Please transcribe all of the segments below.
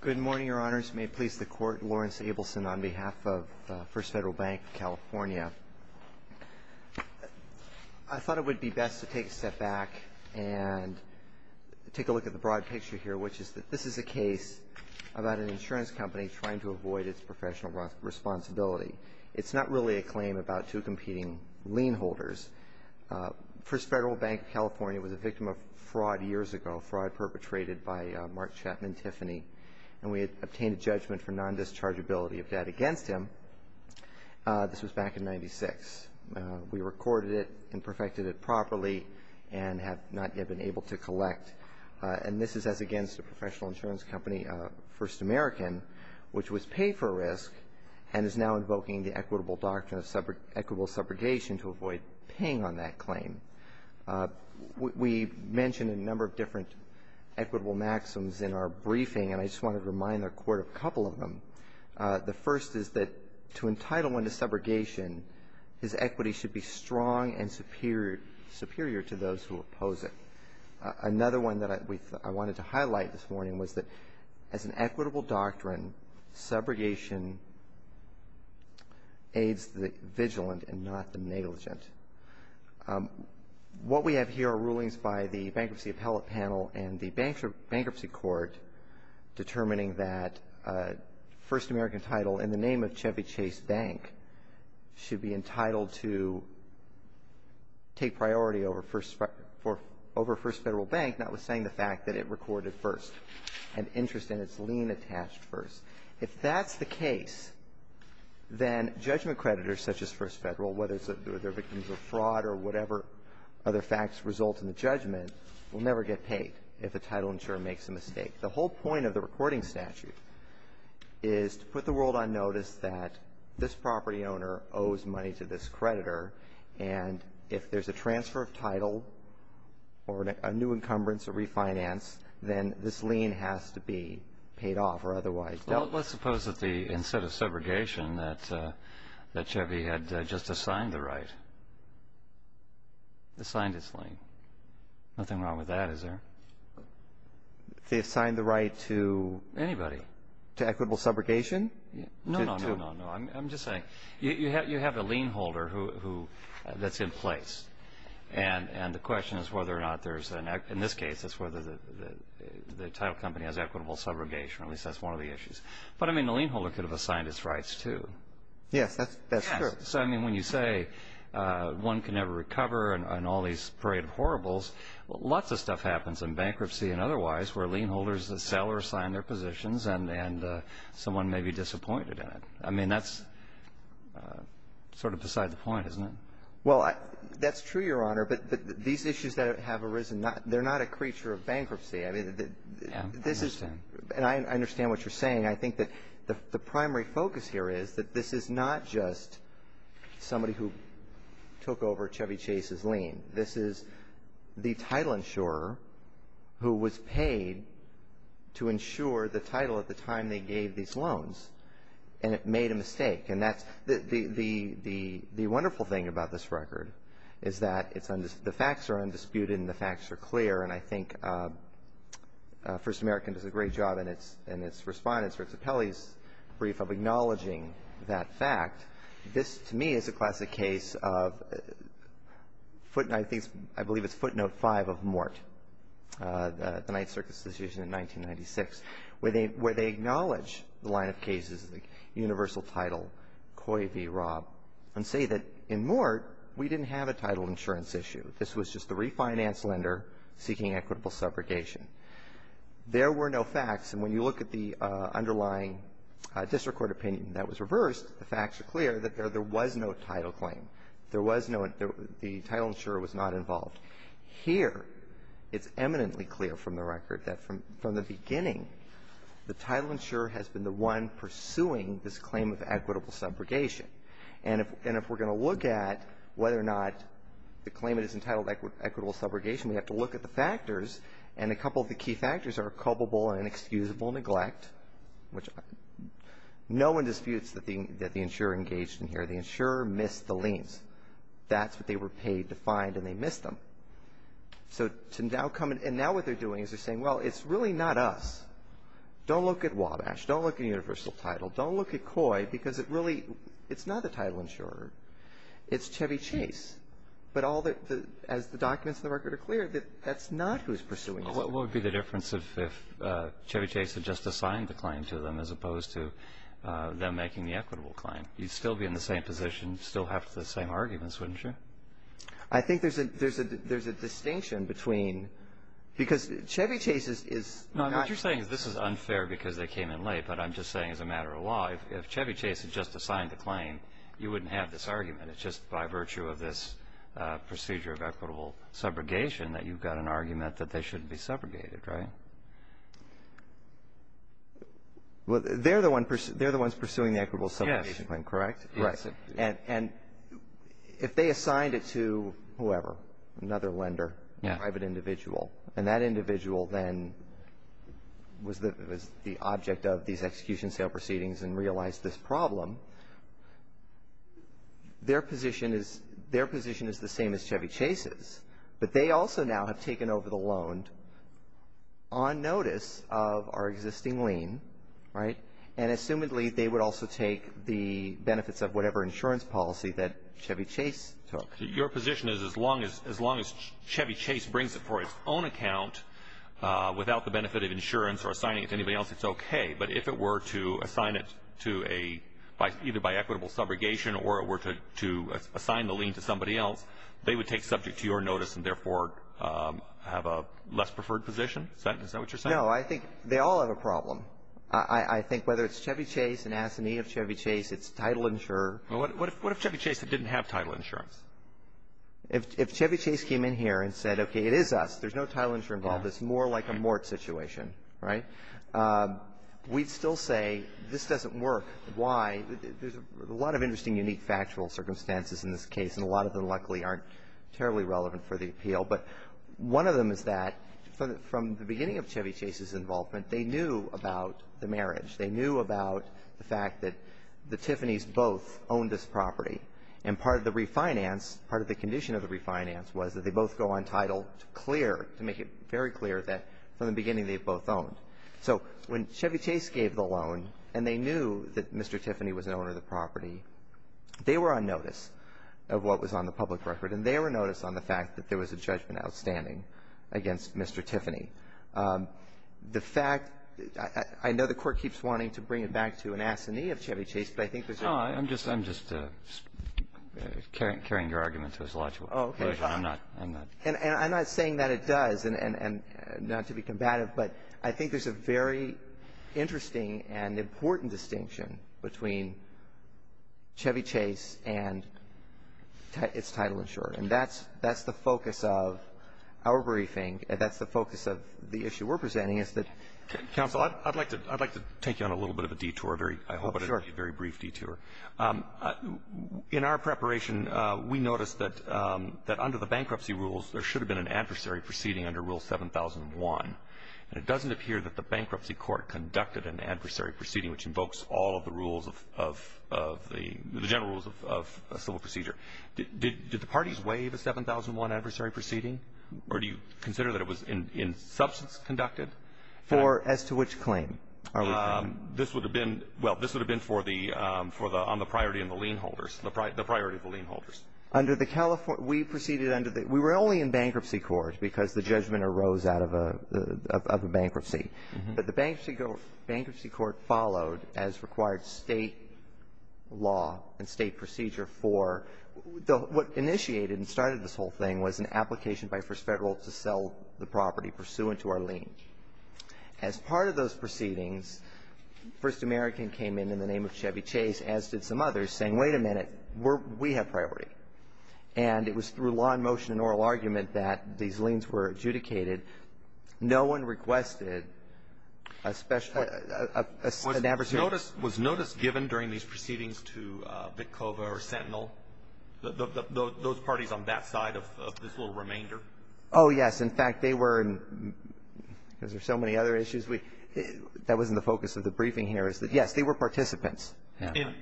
Good morning, Your Honors. May it please the Court, Lawrence Abelson on behalf of First Federal Bank of California. I thought it would be best to take a step back and take a look at the broad picture here, which is that this is a case about an insurance company trying to avoid its professional responsibility. It's not really a claim about two competing lien holders. First Federal Bank of California was a victim of fraud years ago, fraud perpetrated by Mark Chapman Tiffany, and we had obtained a judgment for non-dischargeability of debt against him. This was back in 1996. We recorded it and perfected it properly and have not yet been able to collect. And this is as against a professional insurance company, First American, which was paid for risk and is now invoking the equitable doctrine of equitable subrogation to avoid paying on that claim. We mentioned a number of different equitable maxims in our briefing, and I just wanted to remind the Court of a couple of them. The first is that to entitle one to subrogation, his equity should be strong and superior to those who oppose it. Another one that I wanted to highlight this morning was that as an equitable doctrine, subrogation aids the vigilant and not the negligent. What we have here are rulings by the Bankruptcy Appellate Panel and the Bankruptcy Court determining that a First American title in the name of Chevy Chase Bank should be entitled to take priority over First Federal Bank, notwithstanding the fact that it recorded first and interest in its lien attached first. If that's the case, then judgment creditors such as First Federal, whether they're victims of fraud or whatever other facts result in the judgment, will never get paid if a title insurer makes a mistake. The whole point of the recording statute is to put the world on notice that this property owner owes money to this creditor, and if there's a transfer of title or a new encumbrance or refinance, then this lien has to be paid off or otherwise dealt with. Well, let's suppose that instead of subrogation that Chevy had just assigned the right, assigned its lien. Nothing wrong with that, is there? They assigned the right to? Anybody. To equitable subrogation? No, no, no, no. I'm just saying you have a lien holder that's in place, and the question is whether or not there's, in this case, it's whether the title company has equitable subrogation, or at least that's one of the issues. But, I mean, the lien holder could have assigned its rights, too. Yes, that's true. So, I mean, when you say one can never recover and all these parade of horribles, lots of stuff happens in bankruptcy and otherwise where lien holders sell or assign their positions, and someone may be disappointed in it. I mean, that's sort of beside the point, isn't it? Well, that's true, Your Honor, but these issues that have arisen, they're not a creature of bankruptcy. I understand. And I understand what you're saying. I think that the primary focus here is that this is not just somebody who took over Chevy Chase's lien. This is the title insurer who was paid to insure the title at the time they gave these loans, and it made a mistake. And the wonderful thing about this record is that the facts are undisputed and the facts are clear, and I think First American does a great job in its response or its appellee's brief of acknowledging that fact. This, to me, is a classic case of I believe it's footnote five of Mort, the Ninth Circuit's decision in 1996, where they acknowledge the line of cases, the universal title, Coy v. Robb, and say that in Mort we didn't have a title insurance issue. This was just the refinance lender seeking equitable subrogation. There were no facts, and when you look at the underlying district court opinion that was reversed, the facts are clear that there was no title claim. There was no one. The title insurer was not involved. Here, it's eminently clear from the record that from the beginning, the title insurer has been the one pursuing this claim of equitable subrogation. And if we're going to look at whether or not the claimant is entitled to equitable subrogation, we have to look at the factors, and a couple of the key factors are culpable and inexcusable neglect, which no one disputes that the insurer engaged in here. The insurer missed the liens. That's what they were paid to find, and they missed them. And now what they're doing is they're saying, well, it's really not us. Don't look at Wabash. Don't look at universal title. Don't look at COI, because it really, it's not the title insurer. It's Chevy Chase. But all the, as the documents in the record are clear, that that's not who's pursuing it. What would be the difference if Chevy Chase had just assigned the claim to them as opposed to them making the equitable claim? You'd still be in the same position, still have the same arguments, wouldn't you? I think there's a distinction between, because Chevy Chase is not. No, what you're saying is this is unfair because they came in late, but I'm just saying as a matter of law, if Chevy Chase had just assigned the claim, you wouldn't have this argument. It's just by virtue of this procedure of equitable subrogation that you've got an argument that they shouldn't be subrogated, right? They're the ones pursuing the equitable subrogation claim, correct? Yes. And if they assigned it to whoever, another lender, private individual, and that individual then was the object of these execution sale proceedings and realized this problem, their position is the same as Chevy Chase's. But they also now have taken over the loan on notice of our existing lien, right? And assumedly they would also take the benefits of whatever insurance policy that Chevy Chase took. Your position is as long as Chevy Chase brings it for its own account without the benefit of insurance or assigning it to anybody else, it's okay. But if it were to assign it to either by equitable subrogation or it were to assign the lien to somebody else, they would take subject to your notice and therefore have a less preferred position? Is that what you're saying? No, I think they all have a problem. I think whether it's Chevy Chase, an assignee of Chevy Chase, it's title insurer. Well, what if Chevy Chase didn't have title insurance? If Chevy Chase came in here and said, okay, it is us. There's no title insurer involved. It's more like a mort situation, right? We'd still say this doesn't work. Why? There's a lot of interesting, unique factual circumstances in this case, and a lot of them luckily aren't terribly relevant for the appeal. But one of them is that from the beginning of Chevy Chase's involvement, they knew about the marriage. They knew about the fact that the Tiffanys both owned this property. And part of the refinance, part of the condition of the refinance was that they both go on title to clear, to make it very clear that from the beginning they've both owned. So when Chevy Chase gave the loan and they knew that Mr. Tiffany was the owner of the property, they were on notice of what was on the public record. And they were noticed on the fact that there was a judgment outstanding against Mr. Tiffany. The fact — I know the Court keeps wanting to bring it back to an assignee of Chevy Chase, but I think there's — No, I'm just — I'm just carrying your argument to its logical conclusion. Oh, okay. I'm not — I'm not — And I'm not saying that it does, and not to be combative, but I think there's a very interesting and important distinction between Chevy Chase and its title insurer. And that's — that's the focus of our briefing. That's the focus of the issue we're presenting, is that — Counsel, I'd like to — I'd like to take you on a little bit of a detour, a very — Oh, sure. A very brief detour. In our preparation, we noticed that under the bankruptcy rules, there should have been an adversary proceeding under Rule 7001. And it doesn't appear that the bankruptcy court conducted an adversary proceeding, which invokes all of the rules of the — the general rules of civil procedure. Did the parties waive a 7001 adversary proceeding? Or do you consider that it was in substance conducted? For as to which claim are we talking? This would have been — well, this would have been for the — on the priority and the lien holders, the priority of the lien holders. Under the — we proceeded under the — we were only in bankruptcy court because the judgment arose out of a — of a bankruptcy. But the bankruptcy court followed as required state law and state procedure for the — what initiated and started this whole thing was an application by First Federal to sell the property pursuant to our lien. As part of those proceedings, First American came in in the name of Chevy Chase, as did some others, saying, wait a minute, we're — we have priority. And it was through law and motion and oral argument that these liens were adjudicated. No one requested a special — an adversary. Was notice — was notice given during these proceedings to Bitcova or Sentinel, those parties on that side of this little remainder? Oh, yes. In fact, they were — because there's so many other issues, we — that wasn't the focus of the briefing here, is that, yes, they were participants.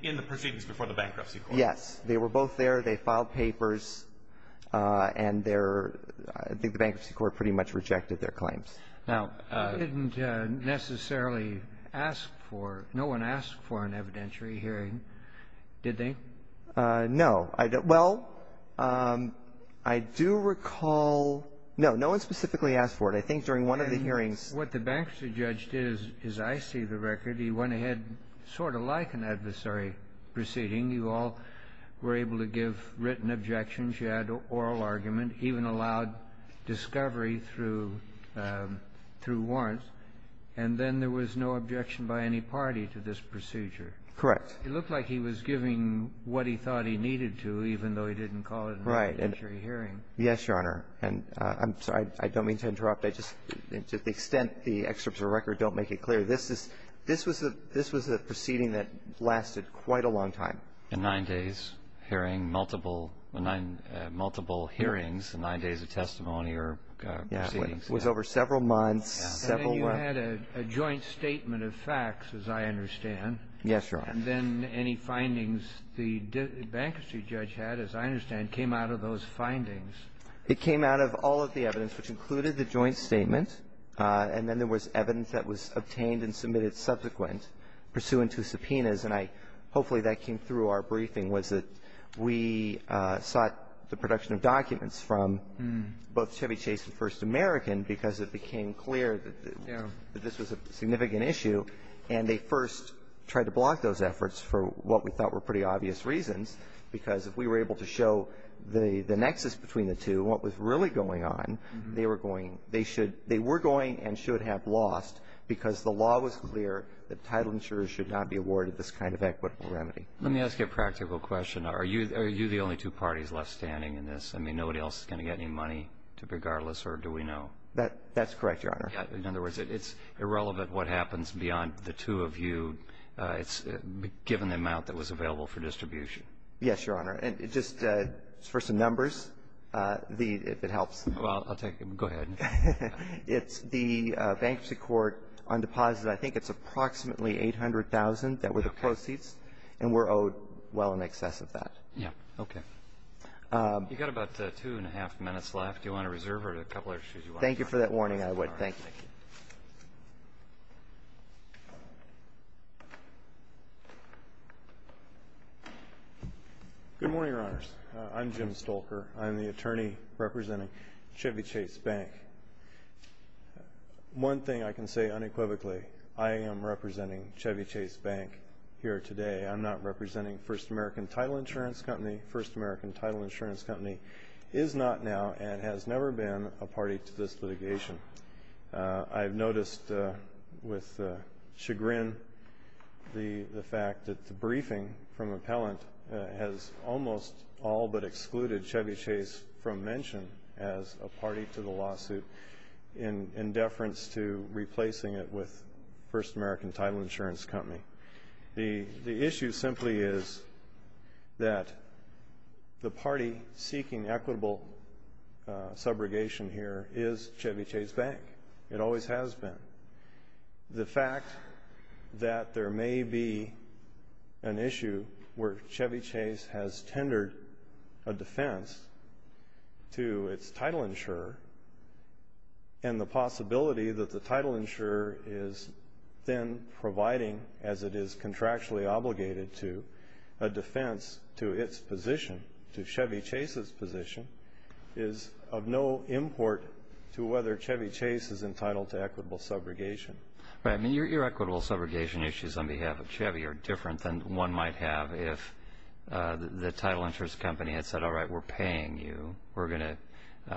In the proceedings before the bankruptcy court. Yes. They were both there. They filed papers. And their — I think the bankruptcy court pretty much rejected their claims. Now — They didn't necessarily ask for — no one asked for an evidentiary hearing, did they? No. Well, I do recall — no, no one specifically asked for it. I think during one of the hearings — What the bankruptcy judge did is I see the record. He went ahead sort of like an adversary proceeding. You all were able to give written objections. You had oral argument, even allowed discovery through — through warrants. And then there was no objection by any party to this procedure. Correct. It looked like he was giving what he thought he needed to, even though he didn't call it an evidentiary hearing. Right. Yes, Your Honor. And I'm sorry. I don't mean to interrupt. I just — to the extent the excerpts of the record don't make it clear, this is — this was a — this was a proceeding that lasted quite a long time. And nine days hearing multiple — multiple hearings and nine days of testimony or proceedings. Yeah. It was over several months, several — And then you had a joint statement of facts, as I understand. Yes, Your Honor. And then any findings the bankruptcy judge had, as I understand, came out of those findings. It came out of all of the evidence, which included the joint statement. And then there was evidence that was obtained and submitted subsequent, pursuant to subpoenas. And I — hopefully that came through our briefing, was that we sought the production of documents from both Chevy Chase and First American because it became clear that this was a significant issue. And they first tried to block those efforts for what we thought were pretty obvious reasons, because if we were able to show the nexus between the two, what was really going on, they were going — they should — they were going and should have lost because the law was clear that title insurers should not be awarded this kind of equitable remedy. Let me ask you a practical question. Are you — are you the only two parties left standing in this? I mean, nobody else is going to get any money regardless, or do we know? That's correct, Your Honor. In other words, it's irrelevant what happens beyond the two of you. It's given the amount that was available for distribution. Yes, Your Honor. And just for some numbers, the — if it helps. Well, I'll take it. Go ahead. It's the bankruptcy court on deposits. I think it's approximately $800,000 that were the proceeds. Okay. And we're owed well in excess of that. Yeah. Okay. You've got about two and a half minutes left. Do you want to reserve or do you have a couple of other issues you want to address? Thank you for that warning. I would. Thank you. Thank you. Good morning, Your Honors. I'm Jim Stolker. I'm the attorney representing Chevy Chase Bank. One thing I can say unequivocally, I am representing Chevy Chase Bank here today. I'm not representing First American Title Insurance Company. First American Title Insurance Company is not now and has never been a party to this litigation. I've noticed with chagrin the fact that the briefing from appellant has almost all but excluded Chevy Chase from mention as a party to the lawsuit in deference to replacing it with First American Title Insurance Company. The issue simply is that the party seeking equitable subrogation here is Chevy Chase Bank. It always has been. The fact that there may be an issue where Chevy Chase has tendered a defense to its title insurer and the possibility that the title insurer is then providing as it is contractually obligated to a defense to its position, to Chevy Chase's position, is of no import to whether Chevy Chase is entitled to equitable subrogation. Your equitable subrogation issues on behalf of Chevy are different than one might have if the title insurance company had said, all right, we're paying you. We're going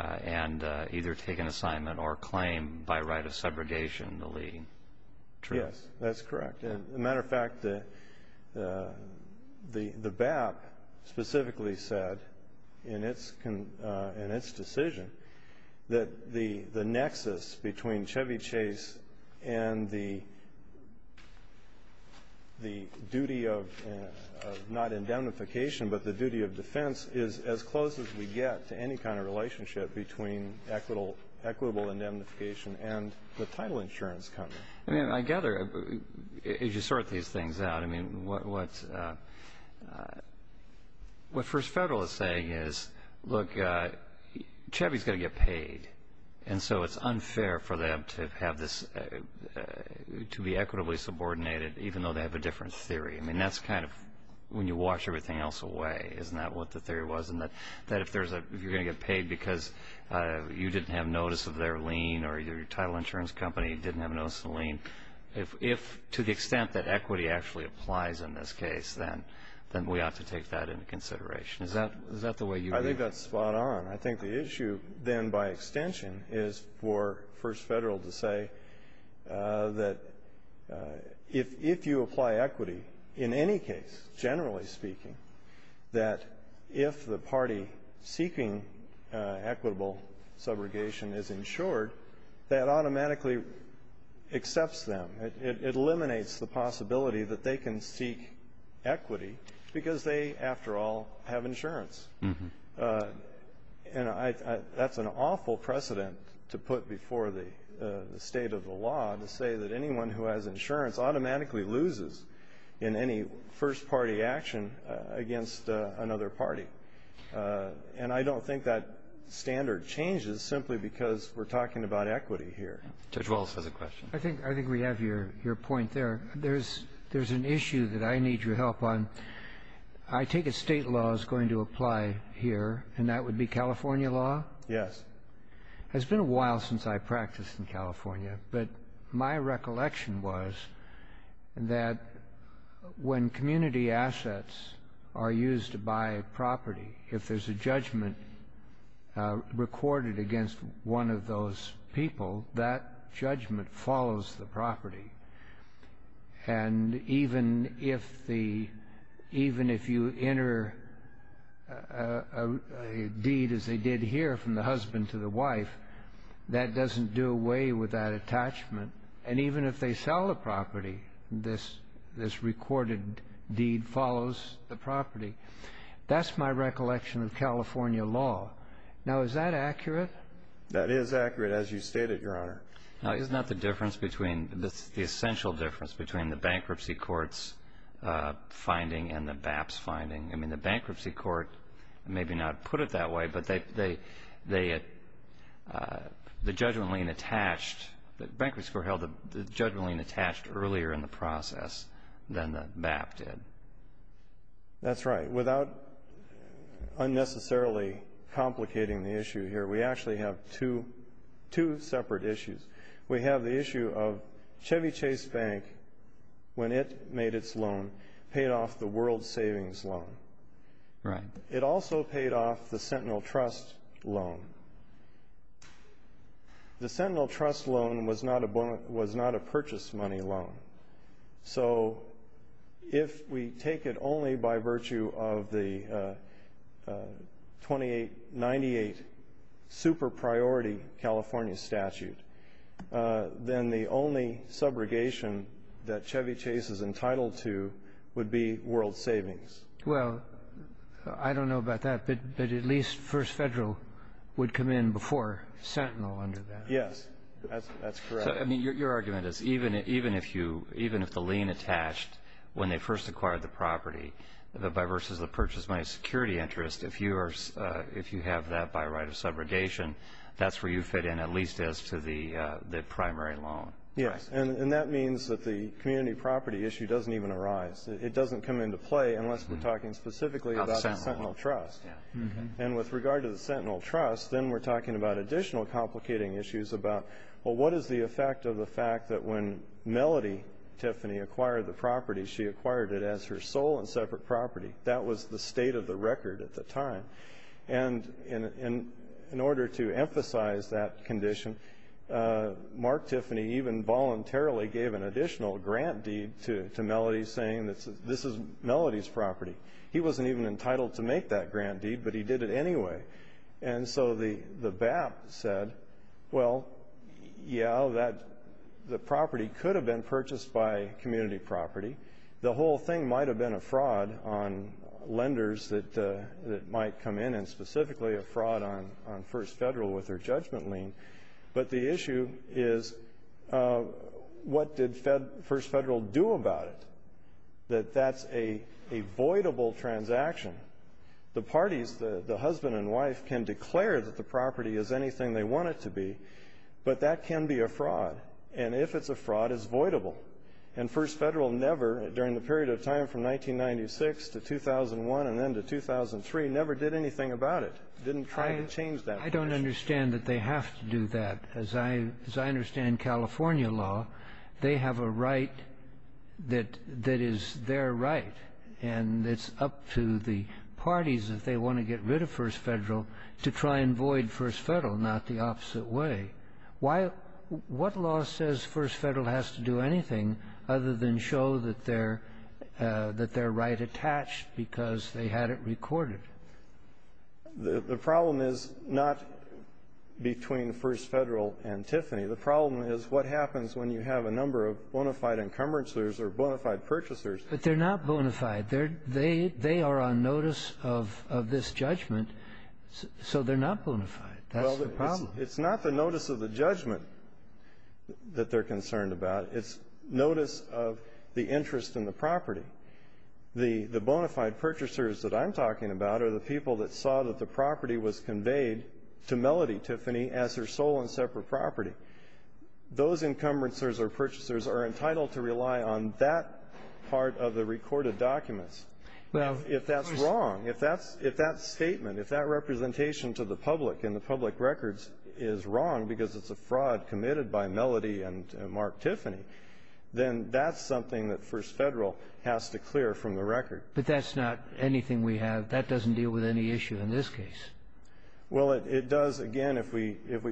to either take an assignment or claim by right of subrogation the lien. Yes, that's correct. As a matter of fact, the BAP specifically said in its decision that the nexus between Chevy Chase and the duty of not indemnification but the duty of defense is as close as we get to any kind of relationship between equitable indemnification and the title insurance company. I mean, I gather as you sort these things out, I mean, what First Federal is saying is, look, Chevy's got to get paid, and so it's unfair for them to be equitably subordinated even though they have a different theory. I mean, that's kind of when you wash everything else away, isn't that what the theory was? And that if you're going to get paid because you didn't have notice of their lien or your title insurance company didn't have notice of the lien, if to the extent that equity actually applies in this case, then we ought to take that into consideration. Is that the way you view it? That's spot on. I think the issue then, by extension, is for First Federal to say that if you apply equity in any case, generally speaking, that if the party seeking equitable subrogation is insured, that automatically accepts them. It eliminates the possibility that they can seek equity because they, after all, have insurance. And that's an awful precedent to put before the State of the law to say that anyone who has insurance automatically loses in any first-party action against another party. And I don't think that standard changes simply because we're talking about equity here. Judge Walz has a question. I think we have your point there. There's an issue that I need your help on. I take it State law is going to apply here, and that would be California law? Yes. It's been a while since I practiced in California, but my recollection was that when community assets are used to buy property, if there's a judgment recorded against one of those people, that judgment follows the property. And even if you enter a deed, as they did here, from the husband to the wife, that doesn't do away with that attachment. And even if they sell the property, this recorded deed follows the property. That's my recollection of California law. Now, is that accurate? That is accurate. As you stated, Your Honor. Now, isn't that the difference between the essential difference between the bankruptcy court's finding and the BAP's finding? I mean, the bankruptcy court maybe not put it that way, but they had the judgment lien attached. The bankruptcy court held the judgment lien attached earlier in the process than the BAP did. That's right. But without unnecessarily complicating the issue here, we actually have two separate issues. We have the issue of Chevy Chase Bank, when it made its loan, paid off the world savings loan. Right. It also paid off the Sentinel Trust loan. The Sentinel Trust loan was not a purchase money loan. So if we take it only by virtue of the 2898 super priority California statute, then the only subrogation that Chevy Chase is entitled to would be world savings. Well, I don't know about that, but at least First Federal would come in before Sentinel under that. Yes. That's correct. I mean, your argument is even if the lien attached when they first acquired the property versus the purchase money security interest, if you have that by right of subrogation, that's where you fit in at least as to the primary loan. Yes. And that means that the community property issue doesn't even arise. It doesn't come into play unless we're talking specifically about the Sentinel Trust. And with regard to the Sentinel Trust, then we're talking about additional complicating issues about, well, what is the effect of the fact that when Melody Tiffany acquired the property, she acquired it as her sole and separate property? That was the state of the record at the time. And in order to emphasize that condition, Mark Tiffany even voluntarily gave an additional grant deed to Melody saying this is Melody's property. He wasn't even entitled to make that grant deed, but he did it anyway. And so the BAP said, well, yeah, the property could have been purchased by community property. The whole thing might have been a fraud on lenders that might come in, and specifically a fraud on First Federal with their judgment lien. But the issue is what did First Federal do about it, that that's a voidable transaction? The parties, the husband and wife, can declare that the property is anything they want it to be, but that can be a fraud. And if it's a fraud, it's voidable. And First Federal never, during the period of time from 1996 to 2001 and then to 2003, never did anything about it, didn't try to change that. I don't understand that they have to do that. As I understand California law, they have a right that is their right. And it's up to the parties, if they want to get rid of First Federal, to try and void First Federal, not the opposite way. What law says First Federal has to do anything other than show that they're right attached because they had it recorded? The problem is not between First Federal and Tiffany. The problem is what happens when you have a number of bona fide encumbrances or bona fide purchasers. But they're not bona fide. They are on notice of this judgment, so they're not bona fide. That's the problem. Well, it's not the notice of the judgment that they're concerned about. It's notice of the interest in the property. The bona fide purchasers that I'm talking about are the people that saw that the property was conveyed to Melody Tiffany as their sole and separate property. Those encumbrances or purchasers are entitled to rely on that part of the recorded documents. If that's wrong, if that statement, if that representation to the public and the public records is wrong because it's a fraud committed by Melody and Mark Tiffany, then that's something that First Federal has to clear from the record. But that's not anything we have. That doesn't deal with any issue in this case. Well, it does, again, if we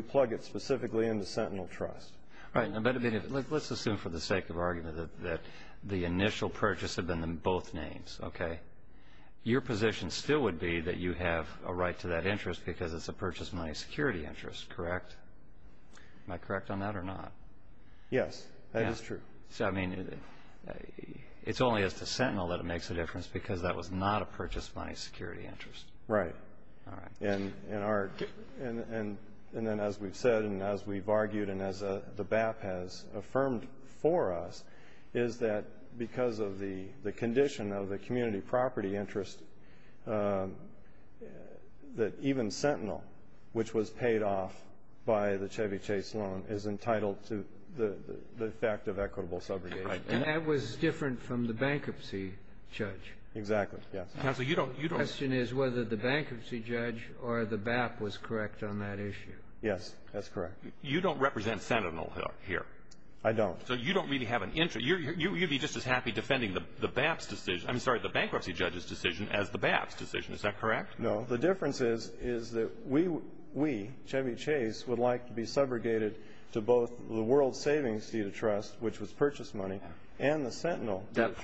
plug it specifically into Sentinel Trust. All right. Let's assume for the sake of argument that the initial purchase had been in both names, okay? Your position still would be that you have a right to that interest because it's a purchase money security interest, correct? Am I correct on that or not? Yes, that is true. So, I mean, it's only as to Sentinel that it makes a difference because that was not a purchase money security interest. Right. All right. And then as we've said and as we've argued and as the BAP has affirmed for us is that because of the condition of the community property interest that even Sentinel, which was paid off by the Chevy Chase loan, is entitled to the fact of equitable subrogation. And that was different from the bankruptcy, Judge. Exactly, yes. Counsel, you don't The question is whether the bankruptcy judge or the BAP was correct on that issue. Yes, that's correct. You don't represent Sentinel here. I don't. So you don't really have an interest. You'd be just as happy defending the bankruptcy judge's decision as the BAP's decision. Is that correct? No. The difference is that we, Chevy Chase, would like to be subrogated to both the world savings deed of trust, which was purchase money, and the Sentinel. That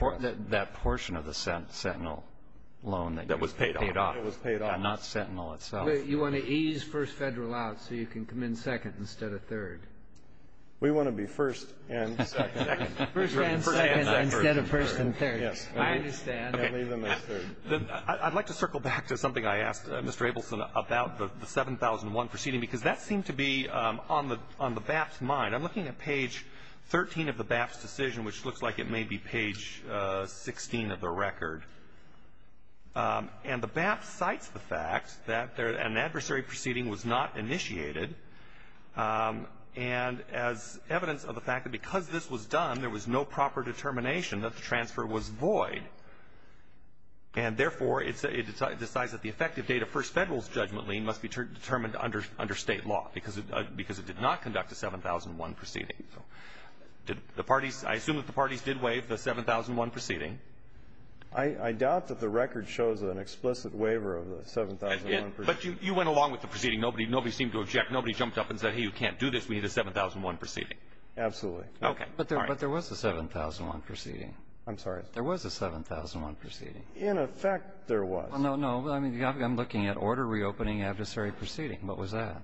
portion of the Sentinel loan that was paid off. It was paid off. And not Sentinel itself. You want to ease first Federal out so you can come in second instead of third. We want to be first and second. First and second instead of first and third. Yes. I understand. I'd like to circle back to something I asked Mr. Abelson about, the 7001 proceeding, because that seemed to be on the BAP's mind. I'm looking at page 13 of the BAP's decision, which looks like it may be page 16 of the record. And the BAP cites the fact that an adversary proceeding was not initiated, and as evidence of the fact that because this was done, there was no proper determination that the transfer was void. And, therefore, it decides that the effective date of first Federal's judgment lien must be determined under State law because it did not conduct a 7001 proceeding. Did the parties – I assume that the parties did waive the 7001 proceeding. I doubt that the record shows an explicit waiver of the 7001 proceeding. But you went along with the proceeding. Nobody seemed to object. Nobody jumped up and said, hey, you can't do this. We need a 7001 proceeding. Absolutely. Okay. All right. But there was a 7001 proceeding. I'm sorry. There was a 7001 proceeding. In effect, there was. No, no. Well, I mean, I'm looking at order reopening adversary proceeding. What was that?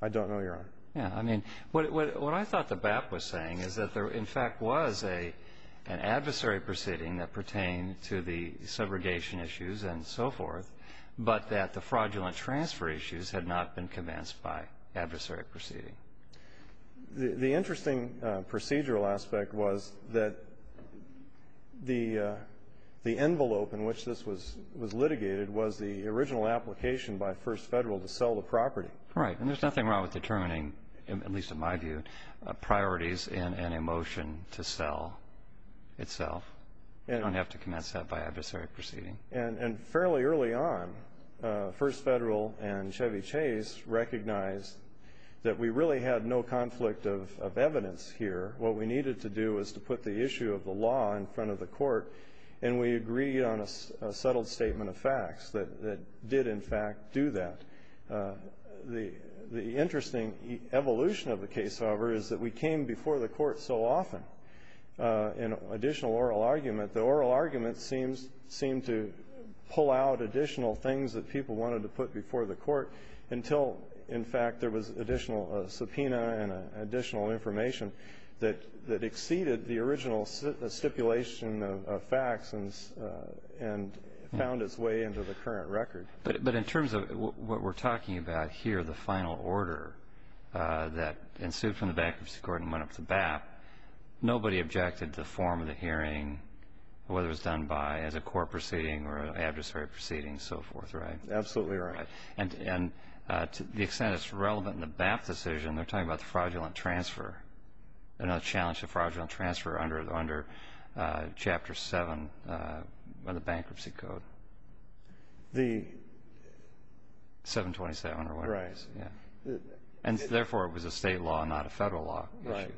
I don't know, Your Honor. Yeah. I mean, what I thought the BAP was saying is that there, in fact, was an adversary proceeding that pertained to the segregation issues and so forth, but that the fraudulent transfer issues had not been commenced by adversary proceeding. The interesting procedural aspect was that the envelope in which this was litigated was the original application by First Federal to sell the property. Right. And there's nothing wrong with determining, at least in my view, priorities in a motion to sell itself. You don't have to commence that by adversary proceeding. And fairly early on, First Federal and Chevy Chase recognized that we really had no conflict of evidence here. What we needed to do was to put the issue of the law in front of the court, and we agreed on a settled statement of facts that did, in fact, do that. The interesting evolution of the case, however, is that we came before the court so often. An additional oral argument. The oral argument seemed to pull out additional things that people wanted to put before the court until, in fact, there was additional subpoena and additional information that exceeded the original stipulation of facts and found its way into the current record. But in terms of what we're talking about here, the final order that ensued from the bankruptcy court and went up to BAP, nobody objected to the form of the hearing, whether it was done by, as a court proceeding or an adversary proceeding, so forth, right? Absolutely right. And to the extent it's relevant in the BAP decision, they're talking about the fraudulent transfer, another challenge to fraudulent transfer under Chapter 7 of the Bankruptcy Code. 727 or whatever it is. Right. And, therefore, it was a State law, not a Federal law. Right.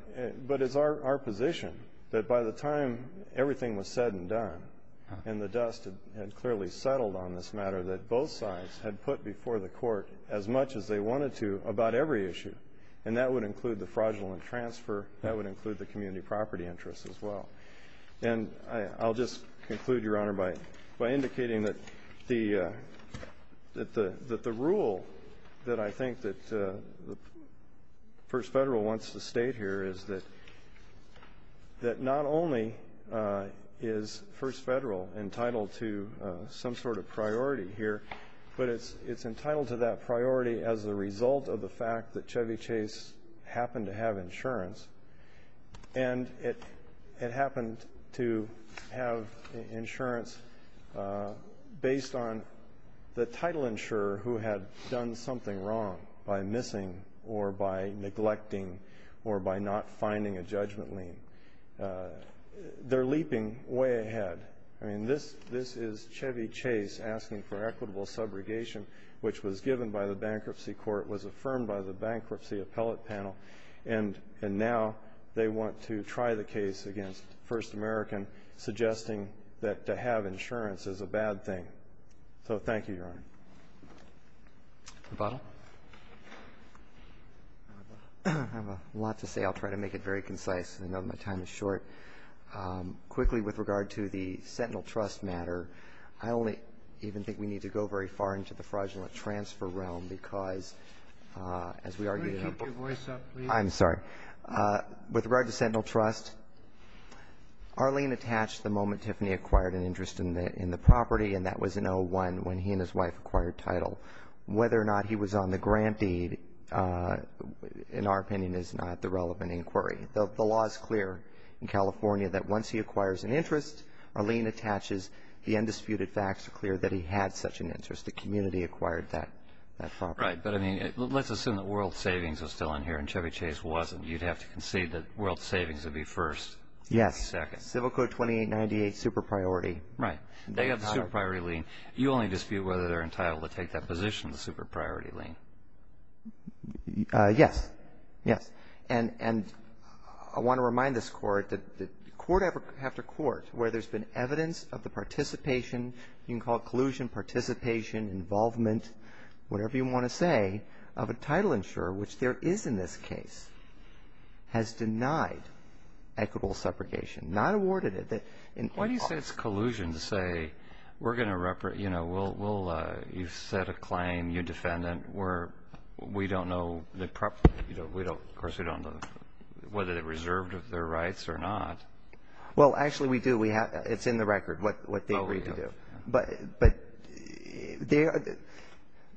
But it's our position that by the time everything was said and done and the dust had clearly settled on this matter, that both sides had put before the court as much as they wanted to about every issue. And that would include the fraudulent transfer. That would include the community property interests as well. And I'll just conclude, Your Honor, by indicating that the rule that I think that the First Federal wants to state here is that not only is First Federal entitled to some sort of priority here, but it's entitled to that priority as a result of the fact that Chevy Chase happened to have insurance. And it happened to have insurance based on the title insurer who had done something wrong by missing or by neglecting or by not finding a judgment lien. They're leaping way ahead. I mean, this is Chevy Chase asking for equitable subrogation, which was given by the Bankruptcy Court, was affirmed by the Bankruptcy Appellate Panel, and now they want to try the case against First American, suggesting that to have insurance is a bad thing. So thank you, Your Honor. Roboto? I have a lot to say. I'll try to make it very concise. I know my time is short. Quickly, with regard to the Sentinel Trust matter, I only even think we need to go very far into the fraudulent transfer realm because, as we argued in the book I'm sorry. With regard to Sentinel Trust, Arlene attached the moment Tiffany acquired an interest in the property, and that was in 01 when he and his wife acquired title. Whether or not he was on the grant deed, in our opinion, is not the relevant inquiry. The law is clear in California that once he acquires an interest, Arlene attaches the undisputed facts to clear that he had such an interest. The community acquired that property. Right. But, I mean, let's assume that World Savings was still in here and Chevy Chase wasn't. You'd have to concede that World Savings would be first. Yes. Second. Civil Code 2898, super priority. Right. They have the super priority lien. You only dispute whether they're entitled to take that position, the super priority lien. Yes. Yes. And I want to remind this Court that court after court, where there's been evidence of the participation, you can call it collusion, participation, involvement, whatever you want to say, of a title insurer, which there is in this case, has denied equitable separation, not awarded it. Why do you say it's collusion to say we're going to, you know, we'll, you set a claim, you defendant, we don't know the property, you know, we don't, of course, we don't know whether they're reserved of their rights or not. Well, actually, we do. It's in the record what they agreed to do. Oh, yeah. But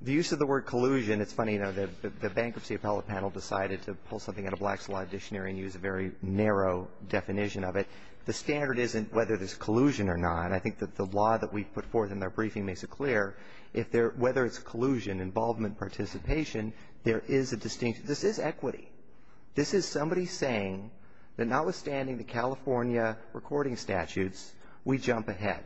the use of the word collusion, it's funny, you know, the bankruptcy appellate panel decided to pull something out of Black's Law Dictionary and use a very narrow definition of it. The standard isn't whether there's collusion or not. I think that the law that we put forth in our briefing makes it clear if there, whether it's collusion, involvement, participation, there is a distinction. This is equity. This is somebody saying that notwithstanding the California recording statutes, we jump ahead.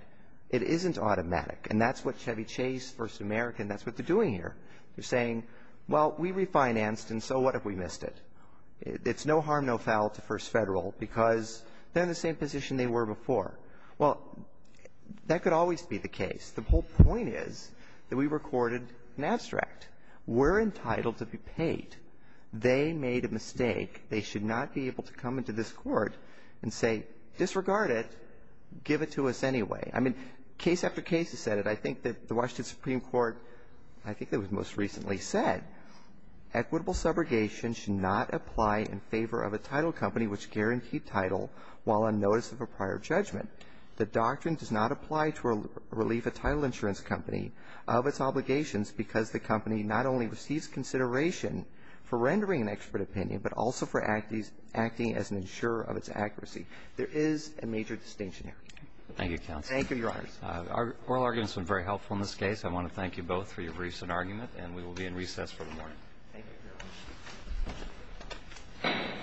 It isn't automatic. And that's what Chevy Chase, First American, that's what they're doing here. They're saying, well, we refinanced, and so what if we missed it? It's no harm, no foul to First Federal because they're in the same position they were before. Well, that could always be the case. The whole point is that we recorded an abstract. We're entitled to be paid. They made a mistake. They should not be able to come into this Court and say, disregard it. Give it to us anyway. I mean, case after case has said it. I think that the Washington Supreme Court, I think that was most recently said, equitable subrogation should not apply in favor of a title company which guaranteed title while on notice of a prior judgment. The doctrine does not apply to relieve a title insurance company of its obligations because the company not only receives consideration for rendering an expert opinion but also for acting as an insurer of its accuracy. There is a major distinction there. Thank you, Your Honor. Thank you, Your Honor. Our oral arguments have been very helpful in this case. I want to thank you both for your briefs and argument, and we will be in recess for the morning.